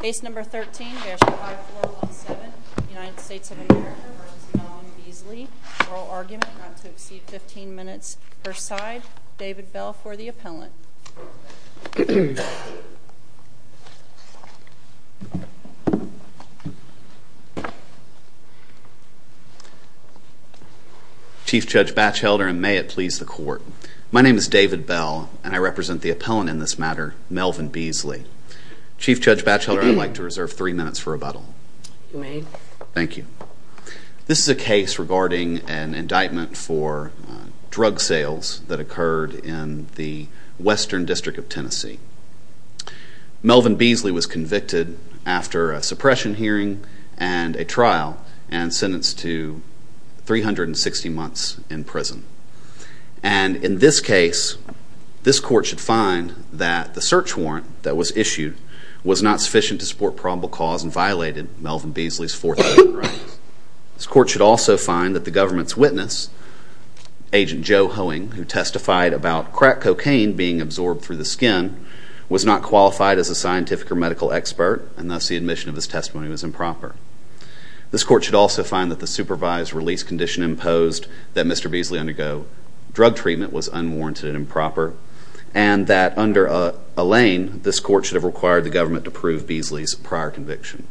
Case number 13-5417, United States of America v. Melvin Beasley, oral argument not to exceed 15 minutes per side. David Bell for the appellant. Chief Judge Batchelder, and may it please the Court. My name is David Bell, and I represent the appellant in this matter, Melvin Beasley. Chief Judge Batchelder, I'd like to reserve three minutes for rebuttal. You may. Thank you. This is a case regarding an indictment for drug sales that occurred in the Western District of Tennessee. Melvin Beasley was convicted after a suppression hearing and a trial and sentenced to 360 months in prison. And in this case, this Court should find that the search warrant that was issued was not sufficient to support probable cause and violated Melvin Beasley's Fourth Amendment rights. This Court should also find that the government's witness, Agent Joe Hoeing, who testified about crack cocaine being absorbed through the skin, was not qualified as a scientific or medical expert, and thus the admission of his testimony was improper. This Court should also find that the supervised release condition imposed that Mr. Beasley undergo drug treatment was unwarranted and improper, and that under a lane, this Court should have required the government to prove Beasley's prior conviction.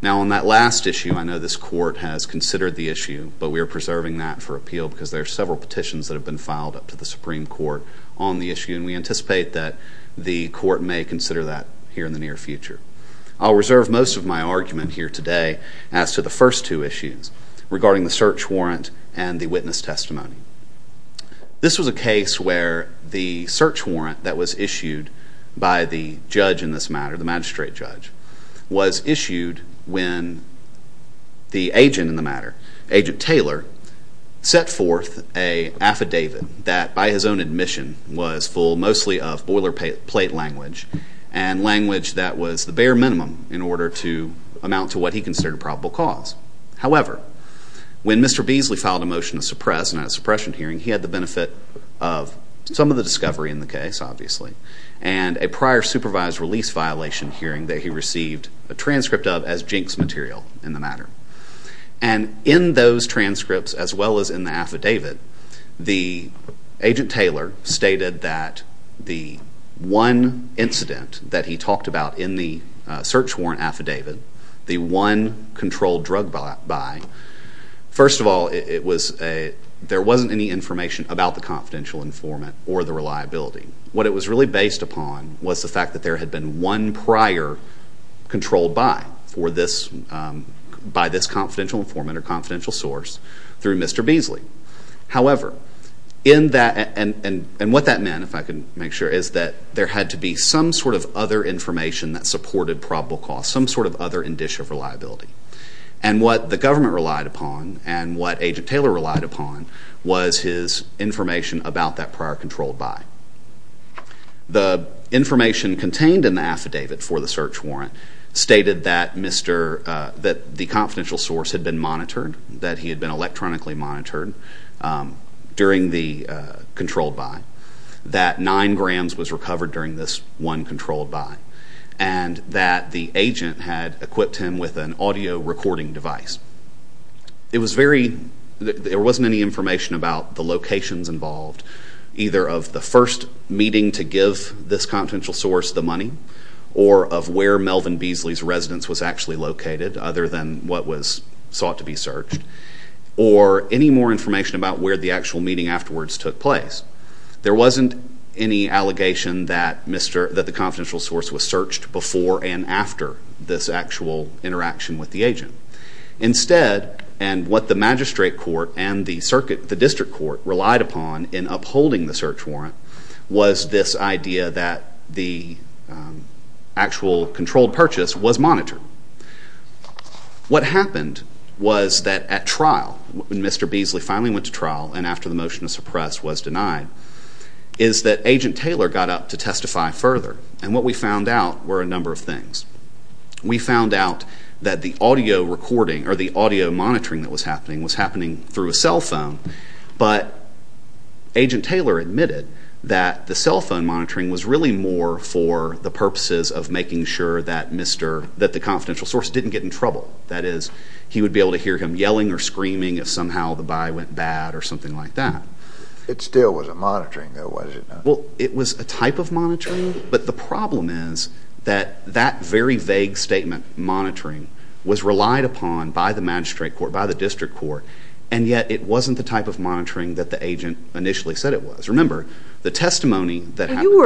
Now, on that last issue, I know this Court has considered the issue, but we are preserving that for appeal because there are several petitions that have been filed up to the Supreme Court on the issue, and we anticipate that the Court may consider that here in the near future. I'll reserve most of my argument here today as to the first two issues regarding the search warrant and the witness testimony. This was a case where the search warrant that was issued by the judge in this matter, the magistrate judge, was issued when the agent in the matter, Agent Taylor, set forth an affidavit that, by his own admission, was full mostly of boilerplate language and language that was the bare minimum in order to amount to what he considered a probable cause. However, when Mr. Beasley filed a motion to suppress in a suppression hearing, he had the benefit of some of the discovery in the case, obviously, and a prior supervised release violation hearing that he received a transcript of as jinx material in the matter. And in those transcripts, as well as in the affidavit, the agent Taylor stated that the one incident that he talked about in the search warrant affidavit, the one controlled drug buy, first of all, there wasn't any information about the confidential informant or the reliability. What it was really based upon was the fact that there had been one prior controlled buy by this confidential informant or confidential source through Mr. Beasley. However, in that, and what that meant, if I can make sure, is that there had to be some sort of other information that supported probable cause, some sort of other indicia of reliability. And what the government relied upon and what agent Taylor relied upon was his information about that prior controlled buy. The information contained in the affidavit for the search warrant stated that the confidential source had been monitored, that he had been electronically monitored during the controlled buy, that nine grams was recovered during this one controlled buy, and that the agent had equipped him with an audio recording device. It was very, there wasn't any information about the locations involved, either of the first meeting to give this confidential source the money, or of where Melvin Beasley's residence was actually located, other than what was sought to be searched, or any more information about where the actual meeting afterwards took place. There wasn't any allegation that the confidential source was searched before and after this actual interaction with the agent. Instead, and what the magistrate court and the district court relied upon in upholding the search warrant, was this idea that the actual controlled purchase was monitored. What happened was that at trial, when Mr. Beasley finally went to trial and after the motion to suppress was denied, is that agent Taylor got up to testify further, and what we found out were a number of things. We found out that the audio recording or the audio monitoring that was happening was happening through a cell phone, but agent Taylor admitted that the cell phone monitoring was really more for the purposes of making sure that Mr., that the confidential source didn't get in trouble. That is, he would be able to hear him yelling or screaming if somehow the buy went bad or something like that. It still wasn't monitoring, though, was it? Well, it was a type of monitoring, but the problem is that that very vague statement, monitoring, was relied upon by the magistrate court, by the district court, and yet it wasn't the type of monitoring that the agent initially said it was. Remember, the testimony that happened... Well,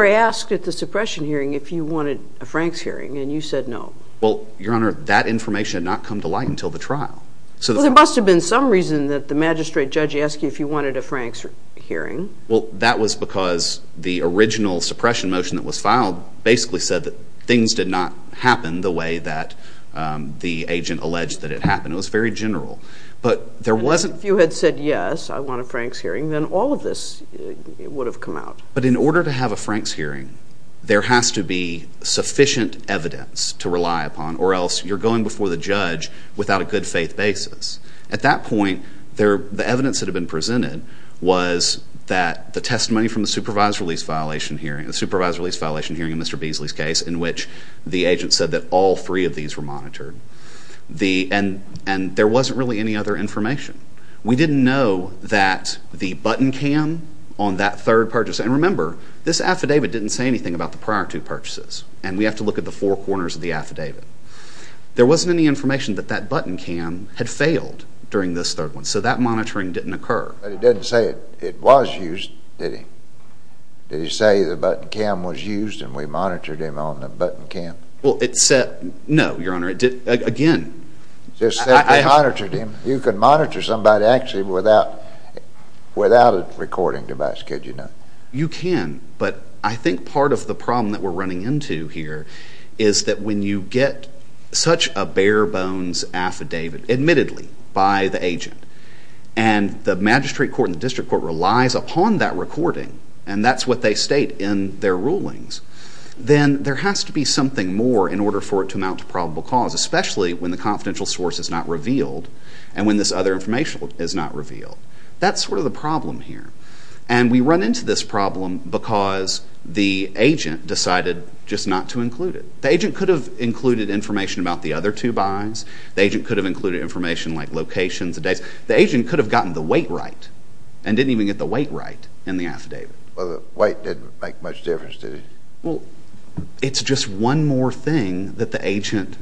Your Honor, that information had not come to light until the trial. There must have been some reason that the magistrate judge asked you if you wanted a Franks hearing. Well, that was because the original suppression motion that was filed basically said that things did not happen the way that the agent alleged that it happened. It was very general, but there wasn't... If you had said, yes, I want a Franks hearing, then all of this would have come out. But in order to have a Franks hearing, there has to be sufficient evidence to rely upon or else you're going before the judge without a good faith basis. At that point, the evidence that had been presented was that the testimony from the supervised release violation hearing, the supervised release violation hearing in Mr. Beasley's case, in which the agent said that all three of these were monitored, and there wasn't really any other information. We didn't know that the button cam on that third purchase... And remember, this affidavit didn't say anything about the prior two purchases, and we have to look at the four corners of the affidavit. There wasn't any information that that button cam had failed during this third one, so that monitoring didn't occur. But it didn't say it was used, did it? Did it say the button cam was used and we monitored him on the button cam? Well, it said... No, Your Honor, it didn't. Again... It said they monitored him. You could monitor somebody actually without a recording device, could you not? You can, but I think part of the problem that we're running into here is that when you get such a bare-bones affidavit, admittedly, by the agent, and the magistrate court and the district court relies upon that recording, and that's what they state in their rulings, then there has to be something more in order for it to amount to probable cause, especially when the confidential source is not revealed and when this other information is not revealed. That's sort of the problem here. And we run into this problem because the agent decided just not to include it. The agent could have included information about the other two buys. The agent could have included information like locations and dates. The agent could have gotten the weight right and didn't even get the weight right in the affidavit. Well, the weight didn't make much difference, did it? Well, it's just one more thing that the agent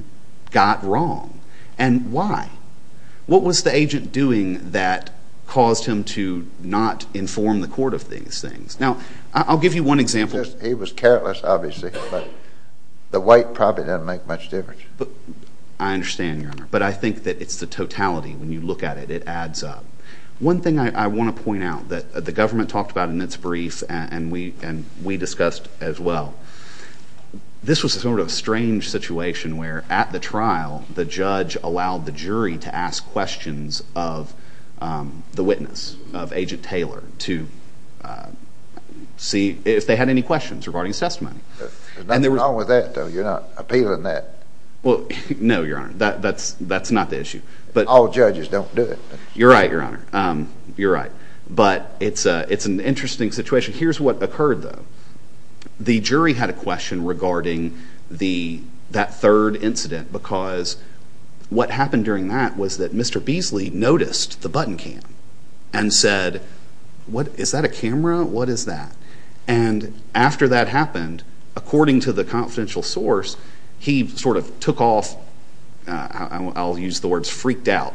got wrong. And why? What was the agent doing that caused him to not inform the court of these things? Now, I'll give you one example. He was careless, obviously, but the weight probably didn't make much difference. I understand, Your Honor, but I think that it's the totality. When you look at it, it adds up. One thing I want to point out that the government talked about in its brief and we discussed as well, this was sort of a strange situation where, at the trial, the judge allowed the jury to ask questions of the witness, of Agent Taylor, to see if they had any questions regarding his testimony. There's nothing wrong with that, though. You're not appealing that. Well, no, Your Honor. That's not the issue. All judges don't do it. You're right, Your Honor. You're right. But it's an interesting situation. Here's what occurred, though. The jury had a question regarding that third incident because what happened during that was that Mr. Beasley noticed the button cam and said, is that a camera? What is that? And after that happened, according to the confidential source, he sort of took off, I'll use the words freaked out,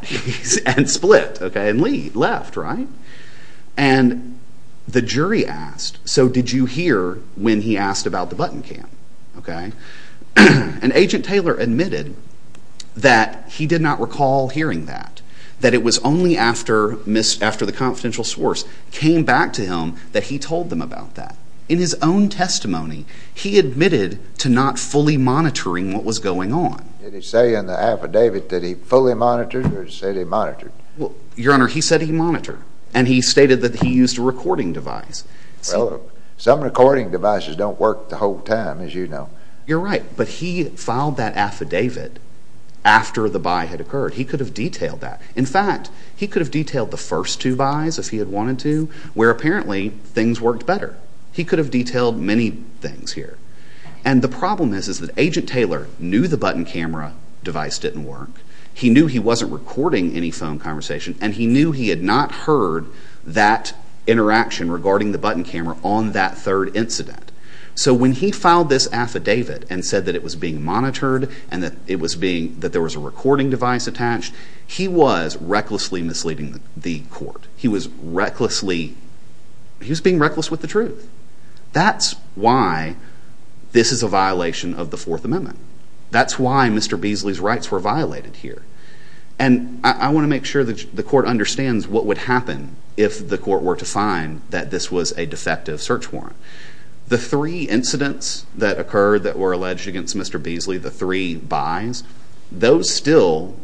and split. And left, right? And the jury asked, so did you hear when he asked about the button cam? And Agent Taylor admitted that he did not recall hearing that, that it was only after the confidential source came back to him that he told them about that. In his own testimony, he admitted to not fully monitoring what was going on. Did he say in the affidavit that he fully monitored or did he say that he monitored? Your Honor, he said he monitored. And he stated that he used a recording device. Well, some recording devices don't work the whole time, as you know. You're right, but he filed that affidavit after the buy had occurred. He could have detailed that. In fact, he could have detailed the first two buys if he had wanted to, where apparently things worked better. He could have detailed many things here. And the problem is that Agent Taylor knew the button camera device didn't work. He knew he wasn't recording any phone conversation, and he knew he had not heard that interaction regarding the button camera on that third incident. So when he filed this affidavit and said that it was being monitored and that there was a recording device attached, he was recklessly misleading the court. He was being reckless with the truth. That's why this is a violation of the Fourth Amendment. That's why Mr. Beasley's rights were violated here. And I want to make sure the court understands what would happen if the court were to find that this was a defective search warrant. The three incidents that occurred that were alleged against Mr. Beasley, the three buys, those still,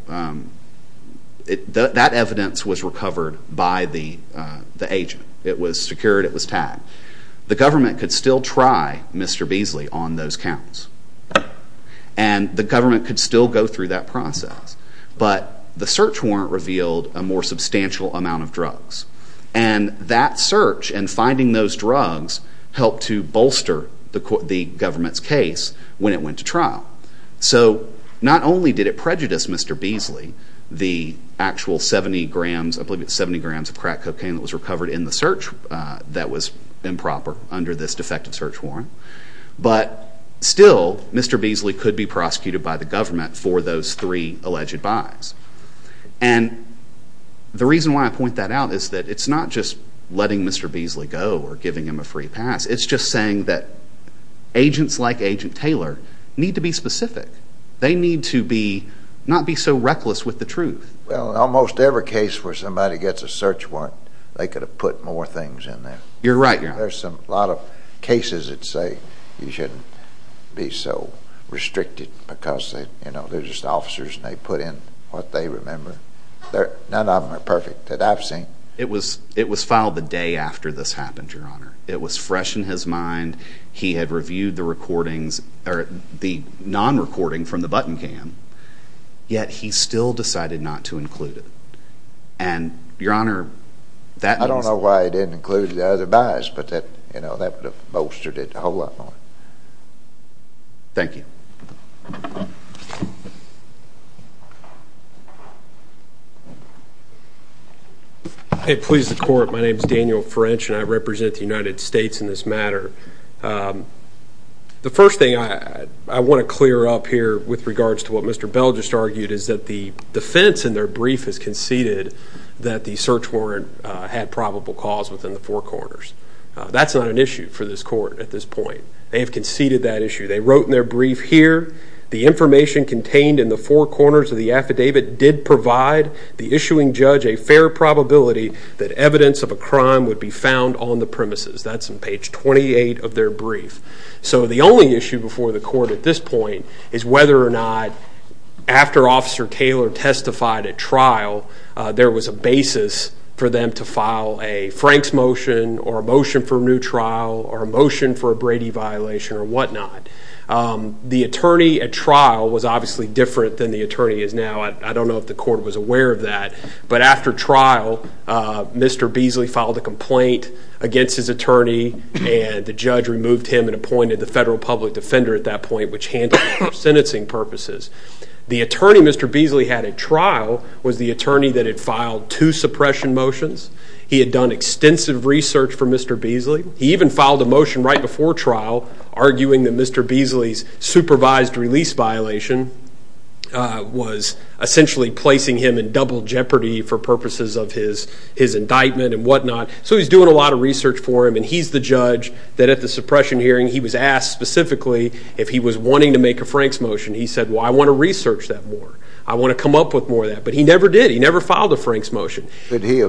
that evidence was recovered by the agent. It was secured. It was tagged. The government could still try Mr. Beasley on those counts. And the government could still go through that process. But the search warrant revealed a more substantial amount of drugs. And that search and finding those drugs helped to bolster the government's case when it went to trial. So not only did it prejudice Mr. Beasley, the actual 70 grams of crack cocaine that was recovered in the search that was improper under this defective search warrant, but still Mr. Beasley could be prosecuted by the government for those three alleged buys. And the reason why I point that out is that it's not just letting Mr. Beasley go or giving him a free pass. It's just saying that agents like Agent Taylor need to be specific. They need to not be so reckless with the truth. Well, in almost every case where somebody gets a search warrant, they could have put more things in there. You're right. There's a lot of cases that say you shouldn't be so restricted because they're just officers and they put in what they remember. None of them are perfect that I've seen. It was filed the day after this happened, Your Honor. It was fresh in his mind. He had reviewed the non-recording from the button cam, yet he still decided not to include it. And, Your Honor, that means... I don't know why he didn't include the other buys, but that would have bolstered it a whole lot more. Thank you. Please, the Court. My name is Daniel French, and I represent the United States in this matter. The first thing I want to clear up here with regards to what Mr. Bell just argued is that the defense in their brief has conceded that the search warrant had probable cause within the four corners. That's not an issue for this Court at this point. They have conceded that issue. They wrote in their brief here, the information contained in the four corners of the affidavit did provide the issuing judge a fair probability that evidence of a crime would be found on the premises. That's on page 28 of their brief. So the only issue before the Court at this point is whether or not, after Officer Taylor testified at trial, there was a basis for them to file a Franks motion or a motion for a new trial or a motion for a Brady violation or whatnot. The attorney at trial was obviously different than the attorney is now. I don't know if the Court was aware of that. But after trial, Mr. Beasley filed a complaint against his attorney, and the judge removed him and appointed the federal public defender at that point, which handled him for sentencing purposes. The attorney Mr. Beasley had at trial was the attorney that had filed two suppression motions. He had done extensive research for Mr. Beasley. He even filed a motion right before trial arguing that Mr. Beasley's supervised release violation was essentially placing him in double jeopardy for purposes of his indictment and whatnot. So he's doing a lot of research for him, and he's the judge that at the suppression hearing he was asked specifically if he was wanting to make a Franks motion. He said, well, I want to research that more. I want to come up with more of that. But he never did. He never filed a Franks motion. Did he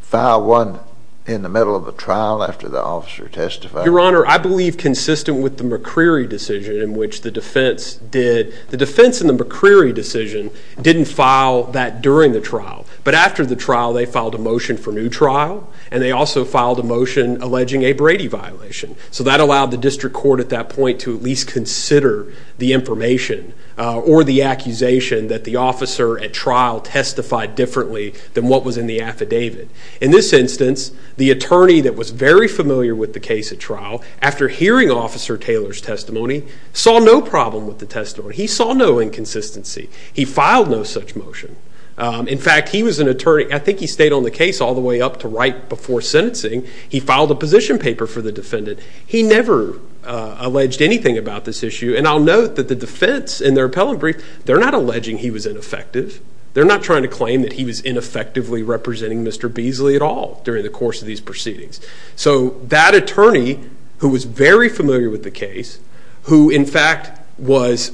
file one in the middle of a trial after the officer testified? Your Honor, I believe consistent with the McCreary decision in which the defense did. The defense in the McCreary decision didn't file that during the trial. But after the trial, they filed a motion for new trial, and they also filed a motion alleging a Brady violation. So that allowed the district court at that point to at least consider the information or the accusation that the officer at trial testified differently than what was in the affidavit. In this instance, the attorney that was very familiar with the case at trial, after hearing Officer Taylor's testimony, saw no problem with the testimony. He saw no inconsistency. He filed no such motion. In fact, he was an attorney. I think he stayed on the case all the way up to right before sentencing. He filed a position paper for the defendant. He never alleged anything about this issue. And I'll note that the defense in their appellate brief, they're not alleging he was ineffective. They're not trying to claim that he was ineffectively representing Mr. Beasley at all during the course of these proceedings. So that attorney, who was very familiar with the case, who in fact was,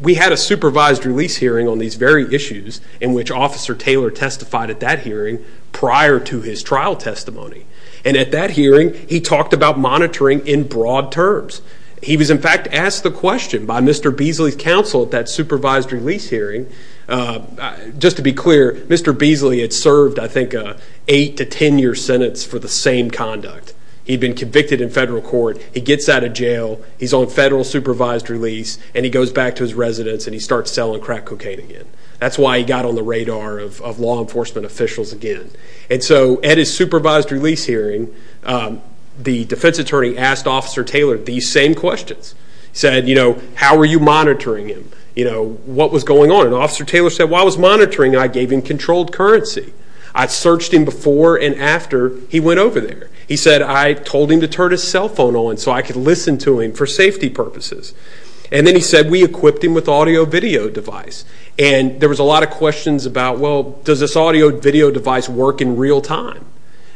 we had a supervised release hearing on these very issues in which Officer Taylor testified at that hearing prior to his trial testimony. And at that hearing, he talked about monitoring in broad terms. He was, in fact, asked the question by Mr. Beasley's counsel at that supervised release hearing. Just to be clear, Mr. Beasley had served, I think, an 8 to 10-year sentence for the same conduct. He'd been convicted in federal court. He gets out of jail. He's on federal supervised release. And he goes back to his residence, and he starts selling crack cocaine again. That's why he got on the radar of law enforcement officials again. And so at his supervised release hearing, the defense attorney asked Officer Taylor these same questions. He said, you know, how are you monitoring him? What was going on? And Officer Taylor said, well, I was monitoring him. I gave him controlled currency. I searched him before and after he went over there. He said, I told him to turn his cell phone on so I could listen to him for safety purposes. And then he said, we equipped him with an audio-video device. And there was a lot of questions about, well, does this audio-video device work in real time?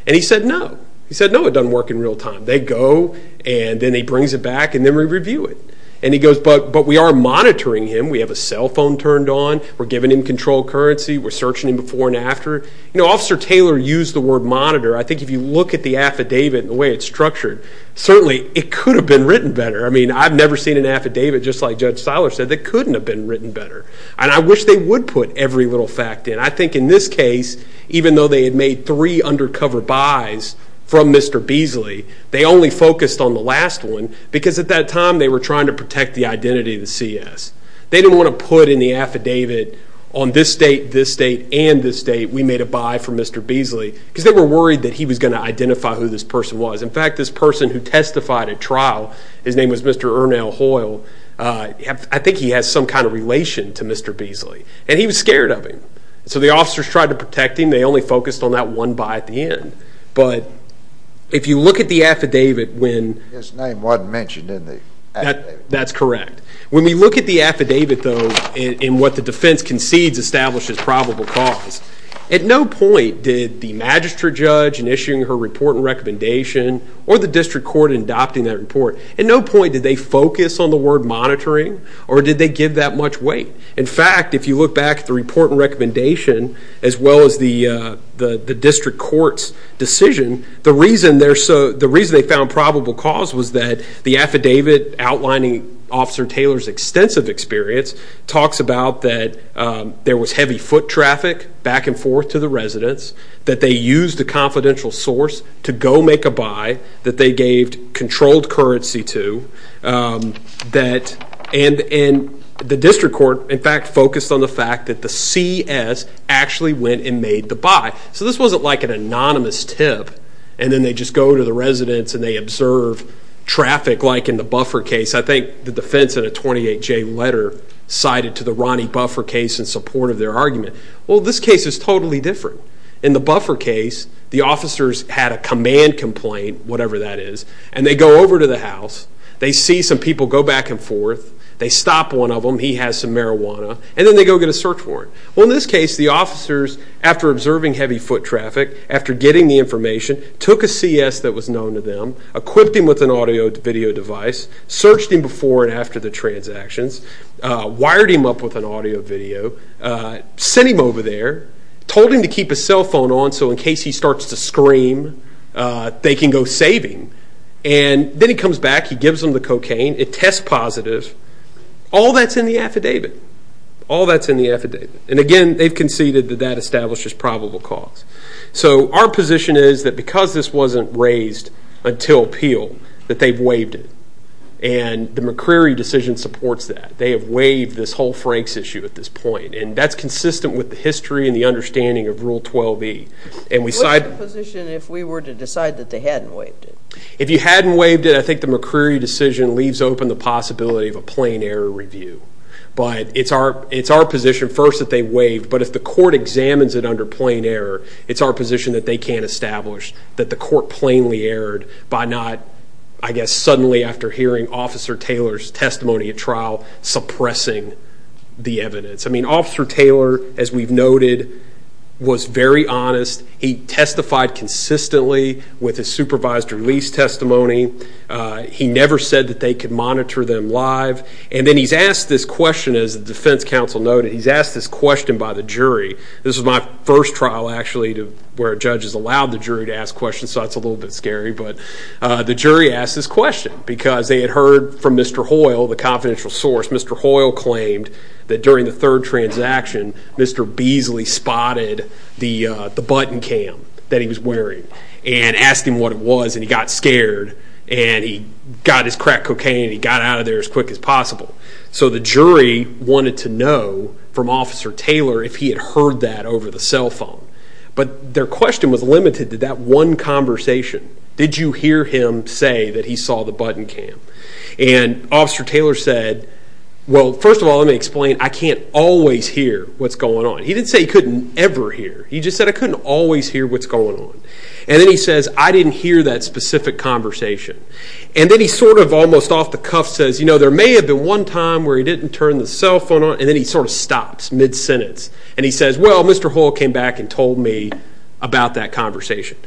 And he said, no. He said, no, it doesn't work in real time. They go, and then he brings it back, and then we review it. And he goes, but we are monitoring him. We have a cell phone turned on. We're giving him controlled currency. We're searching him before and after. You know, Officer Taylor used the word monitor. I think if you look at the affidavit and the way it's structured, certainly it could have been written better. I mean, I've never seen an affidavit, just like Judge Seiler said, that couldn't have been written better. And I wish they would put every little fact in. I think in this case, even though they had made three undercover buys from Mr. Beasley, they only focused on the last one because at that time they were trying to protect the identity of the CS. They didn't want to put in the affidavit, on this date, this date, and this date, we made a buy from Mr. Beasley because they were worried that he was going to identify who this person was. In fact, this person who testified at trial, his name was Mr. Ernell Hoyle, I think he has some kind of relation to Mr. Beasley. And he was scared of him. So the officers tried to protect him. They only focused on that one buy at the end. But if you look at the affidavit when- His name wasn't mentioned in the affidavit. That's correct. When we look at the affidavit, though, and what the defense concedes establishes probable cause, at no point did the magistrate judge, in issuing her report and recommendation, or the district court in adopting that report, at no point did they focus on the word monitoring or did they give that much weight. In fact, if you look back at the report and recommendation, as well as the district court's decision, the reason they found probable cause was that the affidavit outlining Officer Taylor's extensive experience talks about that there was heavy foot traffic back and forth to the residence, that they used a confidential source to go make a buy, that they gave controlled currency to, and the district court, in fact, focused on the fact that the CS actually went and made the buy. So this wasn't like an anonymous tip, and then they just go to the residence and they observe traffic like in the buffer case. I think the defense in a 28-J letter cited to the Ronnie Buffer case in support of their argument. Well, this case is totally different. In the Buffer case, the officers had a command complaint, whatever that is, and they go over to the house. They see some people go back and forth. They stop one of them. He has some marijuana. And then they go get a search warrant. Well, in this case, the officers, after observing heavy foot traffic, after getting the information, took a CS that was known to them, equipped him with an audio-video device, searched him before and after the transactions, wired him up with an audio-video, sent him over there, told him to keep his cell phone on so in case he starts to scream, they can go save him. And then he comes back. He gives them the cocaine. It tests positive. All that's in the affidavit. All that's in the affidavit. And, again, they've conceded that that establishes probable cause. So our position is that because this wasn't raised until appeal, that they've waived it. And the McCreary decision supports that. They have waived this whole Franks issue at this point. And that's consistent with the history and the understanding of Rule 12e. What's the position if we were to decide that they hadn't waived it? If you hadn't waived it, I think the McCreary decision leaves open the possibility of a plain error review. But it's our position first that they've waived. But if the court examines it under plain error, it's our position that they can't establish that the court plainly erred by not, I guess, suddenly after hearing Officer Taylor's testimony at trial, suppressing the evidence. I mean, Officer Taylor, as we've noted, was very honest. He testified consistently with his supervised release testimony. He never said that they could monitor them live. And then he's asked this question, as the defense counsel noted, he's asked this question by the jury. This was my first trial, actually, where a judge has allowed the jury to ask questions, so that's a little bit scary. But the jury asked this question because they had heard from Mr. Hoyle, the confidential source. Mr. Hoyle claimed that during the third transaction, Mr. Beasley spotted the button cam that he was wearing and asked him what it was, and he got scared, and he got his crack cocaine, and he got out of there as quick as possible. So the jury wanted to know from Officer Taylor if he had heard that over the cell phone. But their question was limited to that one conversation. Did you hear him say that he saw the button cam? And Officer Taylor said, well, first of all, let me explain, I can't always hear what's going on. He didn't say he couldn't ever hear. He just said, I couldn't always hear what's going on. And then he says, I didn't hear that specific conversation. And then he sort of almost off the cuff says, you know, there may have been one time where he didn't turn the cell phone on, and then he sort of stops mid-sentence, and he says, well, Mr. Hoyle came back and told me about that conversation.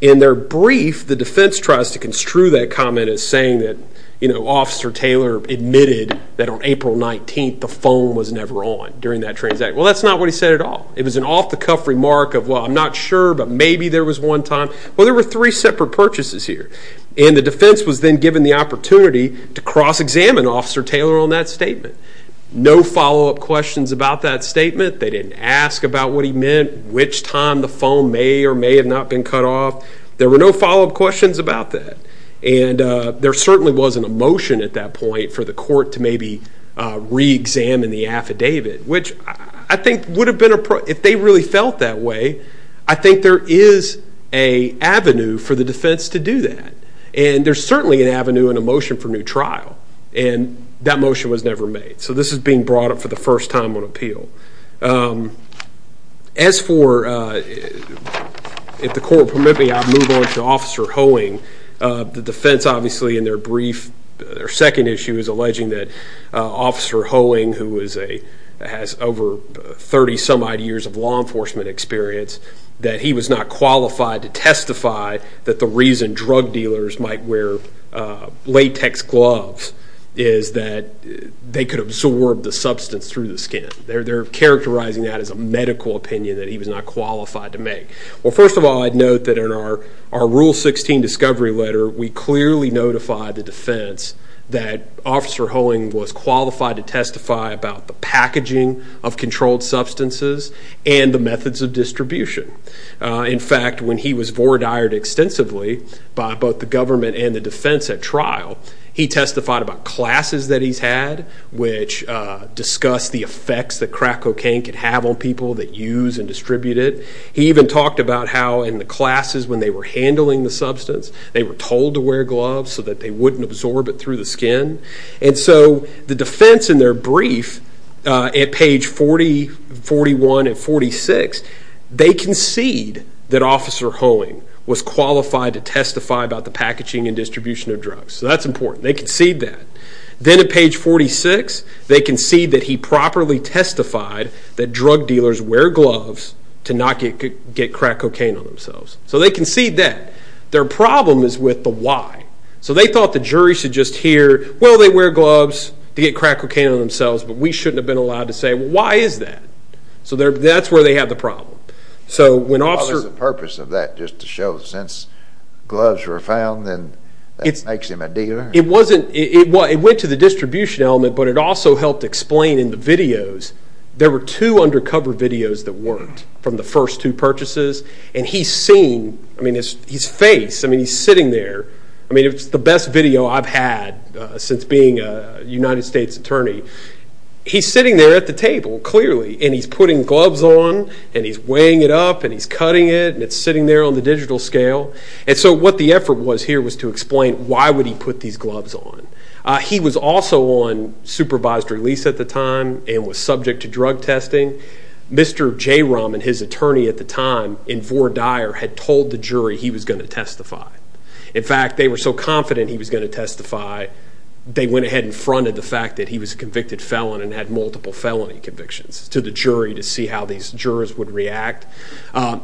In their brief, the defense tries to construe that comment as saying that, you know, Officer Taylor admitted that on April 19th the phone was never on during that transaction. Well, that's not what he said at all. It was an off-the-cuff remark of, well, I'm not sure, but maybe there was one time. Well, there were three separate purchases here. And the defense was then given the opportunity to cross-examine Officer Taylor on that statement. No follow-up questions about that statement. They didn't ask about what he meant, which time the phone may or may have not been cut off. There were no follow-up questions about that. And there certainly wasn't a motion at that point for the court to maybe re-examine the affidavit, which I think would have been a problem. If they really felt that way, I think there is an avenue for the defense to do that. And there's certainly an avenue and a motion for new trial. And that motion was never made. So this is being brought up for the first time on appeal. As for, if the court will permit me, I'll move on to Officer Hoeing. The defense, obviously, in their second issue is alleging that Officer Hoeing, who has over 30-some-odd years of law enforcement experience, that he was not qualified to testify that the reason drug dealers might wear latex gloves is that they could absorb the substance through the skin. They're characterizing that as a medical opinion that he was not qualified to make. Well, first of all, I'd note that in our Rule 16 discovery letter, we clearly notified the defense that Officer Hoeing was qualified to testify about the packaging of controlled substances and the methods of distribution. In fact, when he was voir dired extensively by both the government and the defense at trial, he testified about classes that he's had, which discuss the effects that crack cocaine can have on people that use and distribute it. He even talked about how in the classes when they were handling the substance, they were told to wear gloves so that they wouldn't absorb it through the skin. And so the defense in their brief at page 40, 41, and 46, they concede that Officer Hoeing was qualified to testify about the packaging and distribution of drugs. So that's important. They concede that. Then at page 46, they concede that he properly testified that drug dealers wear gloves to not get crack cocaine on themselves. So they concede that. Their problem is with the why. So they thought the jury should just hear, well, they wear gloves to get crack cocaine on themselves, but we shouldn't have been allowed to say, well, why is that? So that's where they have the problem. Well, there's a purpose of that, just to show that since gloves were found, then that makes him a dealer. It went to the distribution element, but it also helped explain in the videos, there were two undercover videos that worked from the first two purchases, and he's seen, I mean, his face, I mean, he's sitting there. I mean, it's the best video I've had since being a United States attorney. He's sitting there at the table, clearly, and he's putting gloves on, and he's weighing it up, and he's cutting it, and it's sitting there on the digital scale. And so what the effort was here was to explain why would he put these gloves on. He was also on supervised release at the time and was subject to drug testing. Mr. Jayram and his attorney at the time in Vore Dyer had told the jury he was going to testify. In fact, they were so confident he was going to testify, they went ahead and fronted the fact that he was a convicted felon and had multiple felony convictions to the jury to see how these jurors would react.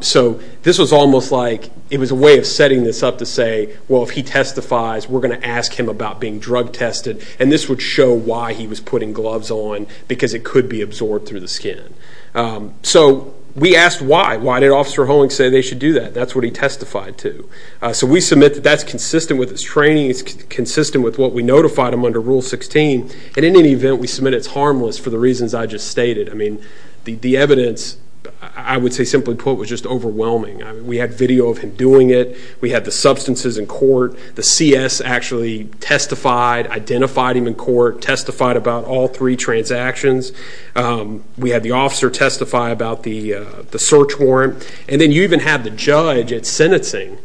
So this was almost like it was a way of setting this up to say, well, if he testifies, we're going to ask him about being drug tested, and this would show why he was putting gloves on because it could be absorbed through the skin. So we asked why. Why did Officer Hulling say they should do that? That's what he testified to. So we submit that that's consistent with his training. It's consistent with what we notified him under Rule 16. And in any event, we submit it's harmless for the reasons I just stated. I mean, the evidence, I would say simply put, was just overwhelming. We had video of him doing it. We had the substances in court. The CS actually testified, identified him in court, testified about all three transactions. We had the officer testify about the search warrant. And then you even have the judge at sentencing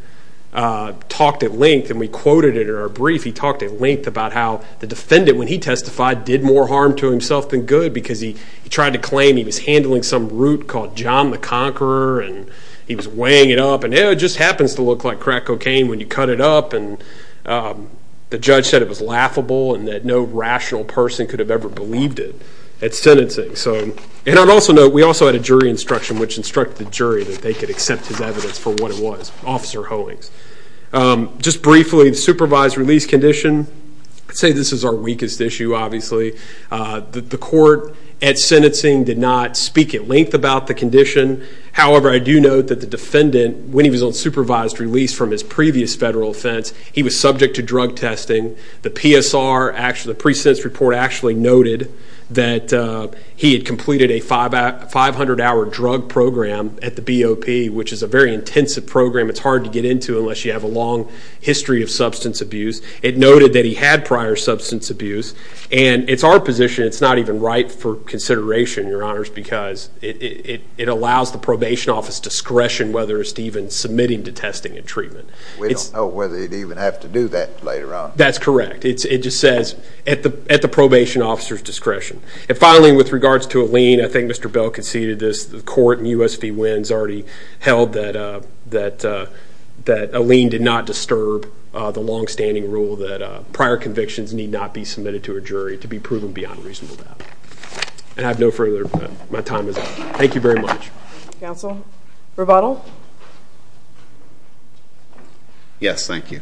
talked at length, and we quoted it in our brief. He talked at length about how the defendant, when he testified, did more harm to himself than good because he tried to claim he was handling some root called John the Conqueror, and he was weighing it up, and it just happens to look like crack cocaine when you cut it up. And the judge said it was laughable and that no rational person could have ever believed it at sentencing. And I'd also note we also had a jury instruction, which instructed the jury that they could accept his evidence for what it was, Officer Hulling's. Just briefly, the supervised release condition, I'd say this is our weakest issue, obviously. The court at sentencing did not speak at length about the condition. However, I do note that the defendant, when he was on supervised release from his previous federal offense, he was subject to drug testing. The PSR, the pre-sentence report actually noted that he had completed a 500-hour drug program at the BOP, which is a very intensive program. It's hard to get into unless you have a long history of substance abuse. It noted that he had prior substance abuse. And it's our position it's not even right for consideration, Your Honors, because it allows the probation office discretion whether it's even submitting to testing and treatment. We don't know whether he'd even have to do that later on. That's correct. It just says at the probation officer's discretion. And finally, with regards to a lien, I think Mr. Bell conceded this. The court in U.S. v. Wins already held that a lien did not disturb the longstanding rule that prior convictions need not be submitted to a jury to be proven beyond reasonable doubt. And I have no further. My time is up. Thank you very much. Counsel? Rebuttal? Yes. Thank you.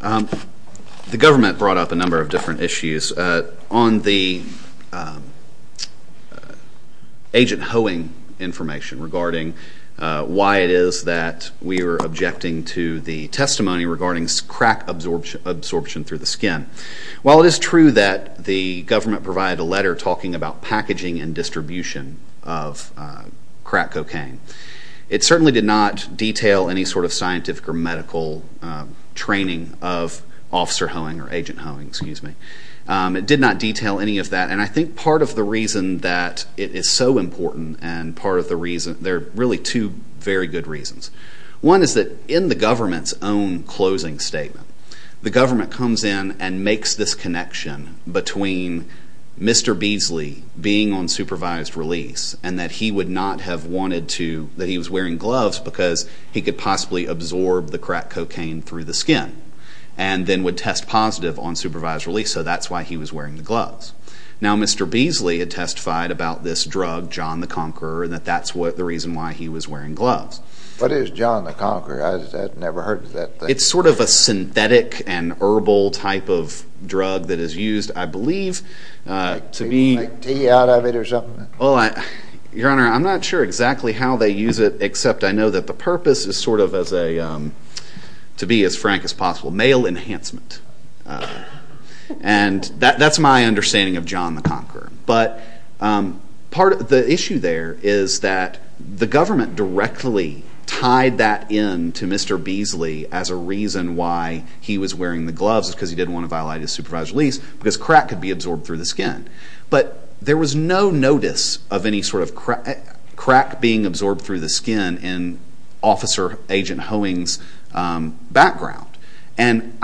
The government brought up a number of different issues on the agent hoeing information regarding why it is that we are objecting to the testimony regarding crack absorption through the skin. While it is true that the government provided a letter talking about packaging and distribution of crack cocaine, it certainly did not detail any sort of scientific or medical training of officer hoeing or agent hoeing, excuse me. It did not detail any of that. And I think part of the reason that it is so important and part of the reason, there are really two very good reasons. One is that in the government's own closing statement, the government comes in and makes this connection between Mr. Beasley being on supervised release and that he would not have wanted to, that he was wearing gloves because he could possibly absorb the crack cocaine through the skin and then would test positive on supervised release, so that's why he was wearing the gloves. Now, Mr. Beasley had testified about this drug, John the Conqueror, and that that's the reason why he was wearing gloves. What is John the Conqueror? I've never heard of that thing. It's sort of a synthetic and herbal type of drug that is used, I believe, to be... To eat out of it or something? Well, Your Honor, I'm not sure exactly how they use it, except I know that the purpose is sort of as a, to be as frank as possible, male enhancement. And that's my understanding of John the Conqueror. But part of the issue there is that the government directly tied that in to Mr. Beasley as a reason why he was wearing the gloves, because he didn't want to violate his supervised release, because crack could be absorbed through the skin. But there was no notice of any sort of crack being absorbed through the skin in Officer Agent Hoeing's background. And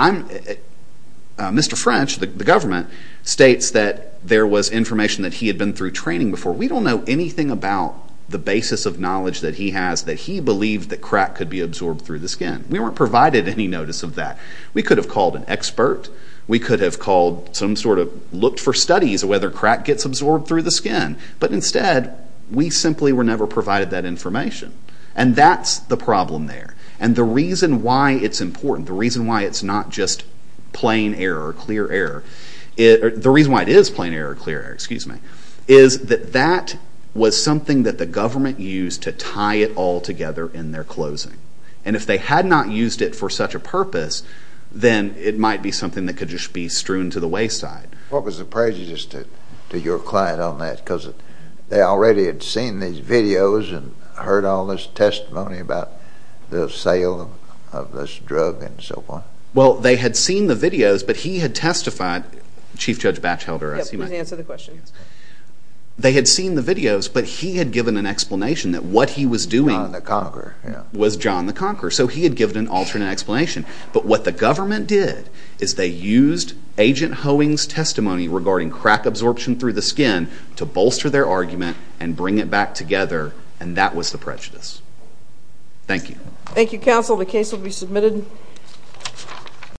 Mr. French, the government, states that there was information that he had been through training before. We don't know anything about the basis of knowledge that he has that he believed that crack could be absorbed through the skin. We weren't provided any notice of that. We could have called an expert. We could have called some sort of, looked for studies of whether crack gets absorbed through the skin. But instead, we simply were never provided that information. And that's the problem there. And the reason why it's important, the reason why it's not just plain error or clear error, the reason why it is plain error or clear error, excuse me, is that that was something that the government used to tie it all together in their closing. And if they had not used it for such a purpose, then it might be something that could just be strewn to the wayside. What was the prejudice to your client on that? Because they already had seen these videos and heard all this testimony about the sale of this drug and so forth. Well, they had seen the videos, but he had testified. Chief Judge Batchelder, I assume. Yes, please answer the question. They had seen the videos, but he had given an explanation that what he was doing... John the Conqueror, yes. ...was John the Conqueror. So he had given an alternate explanation. But what the government did is they used Agent Hoeing's testimony regarding crack absorption through the skin to bolster their argument and bring it back together, and that was the prejudice. Thank you. Thank you, counsel. The case will be submitted.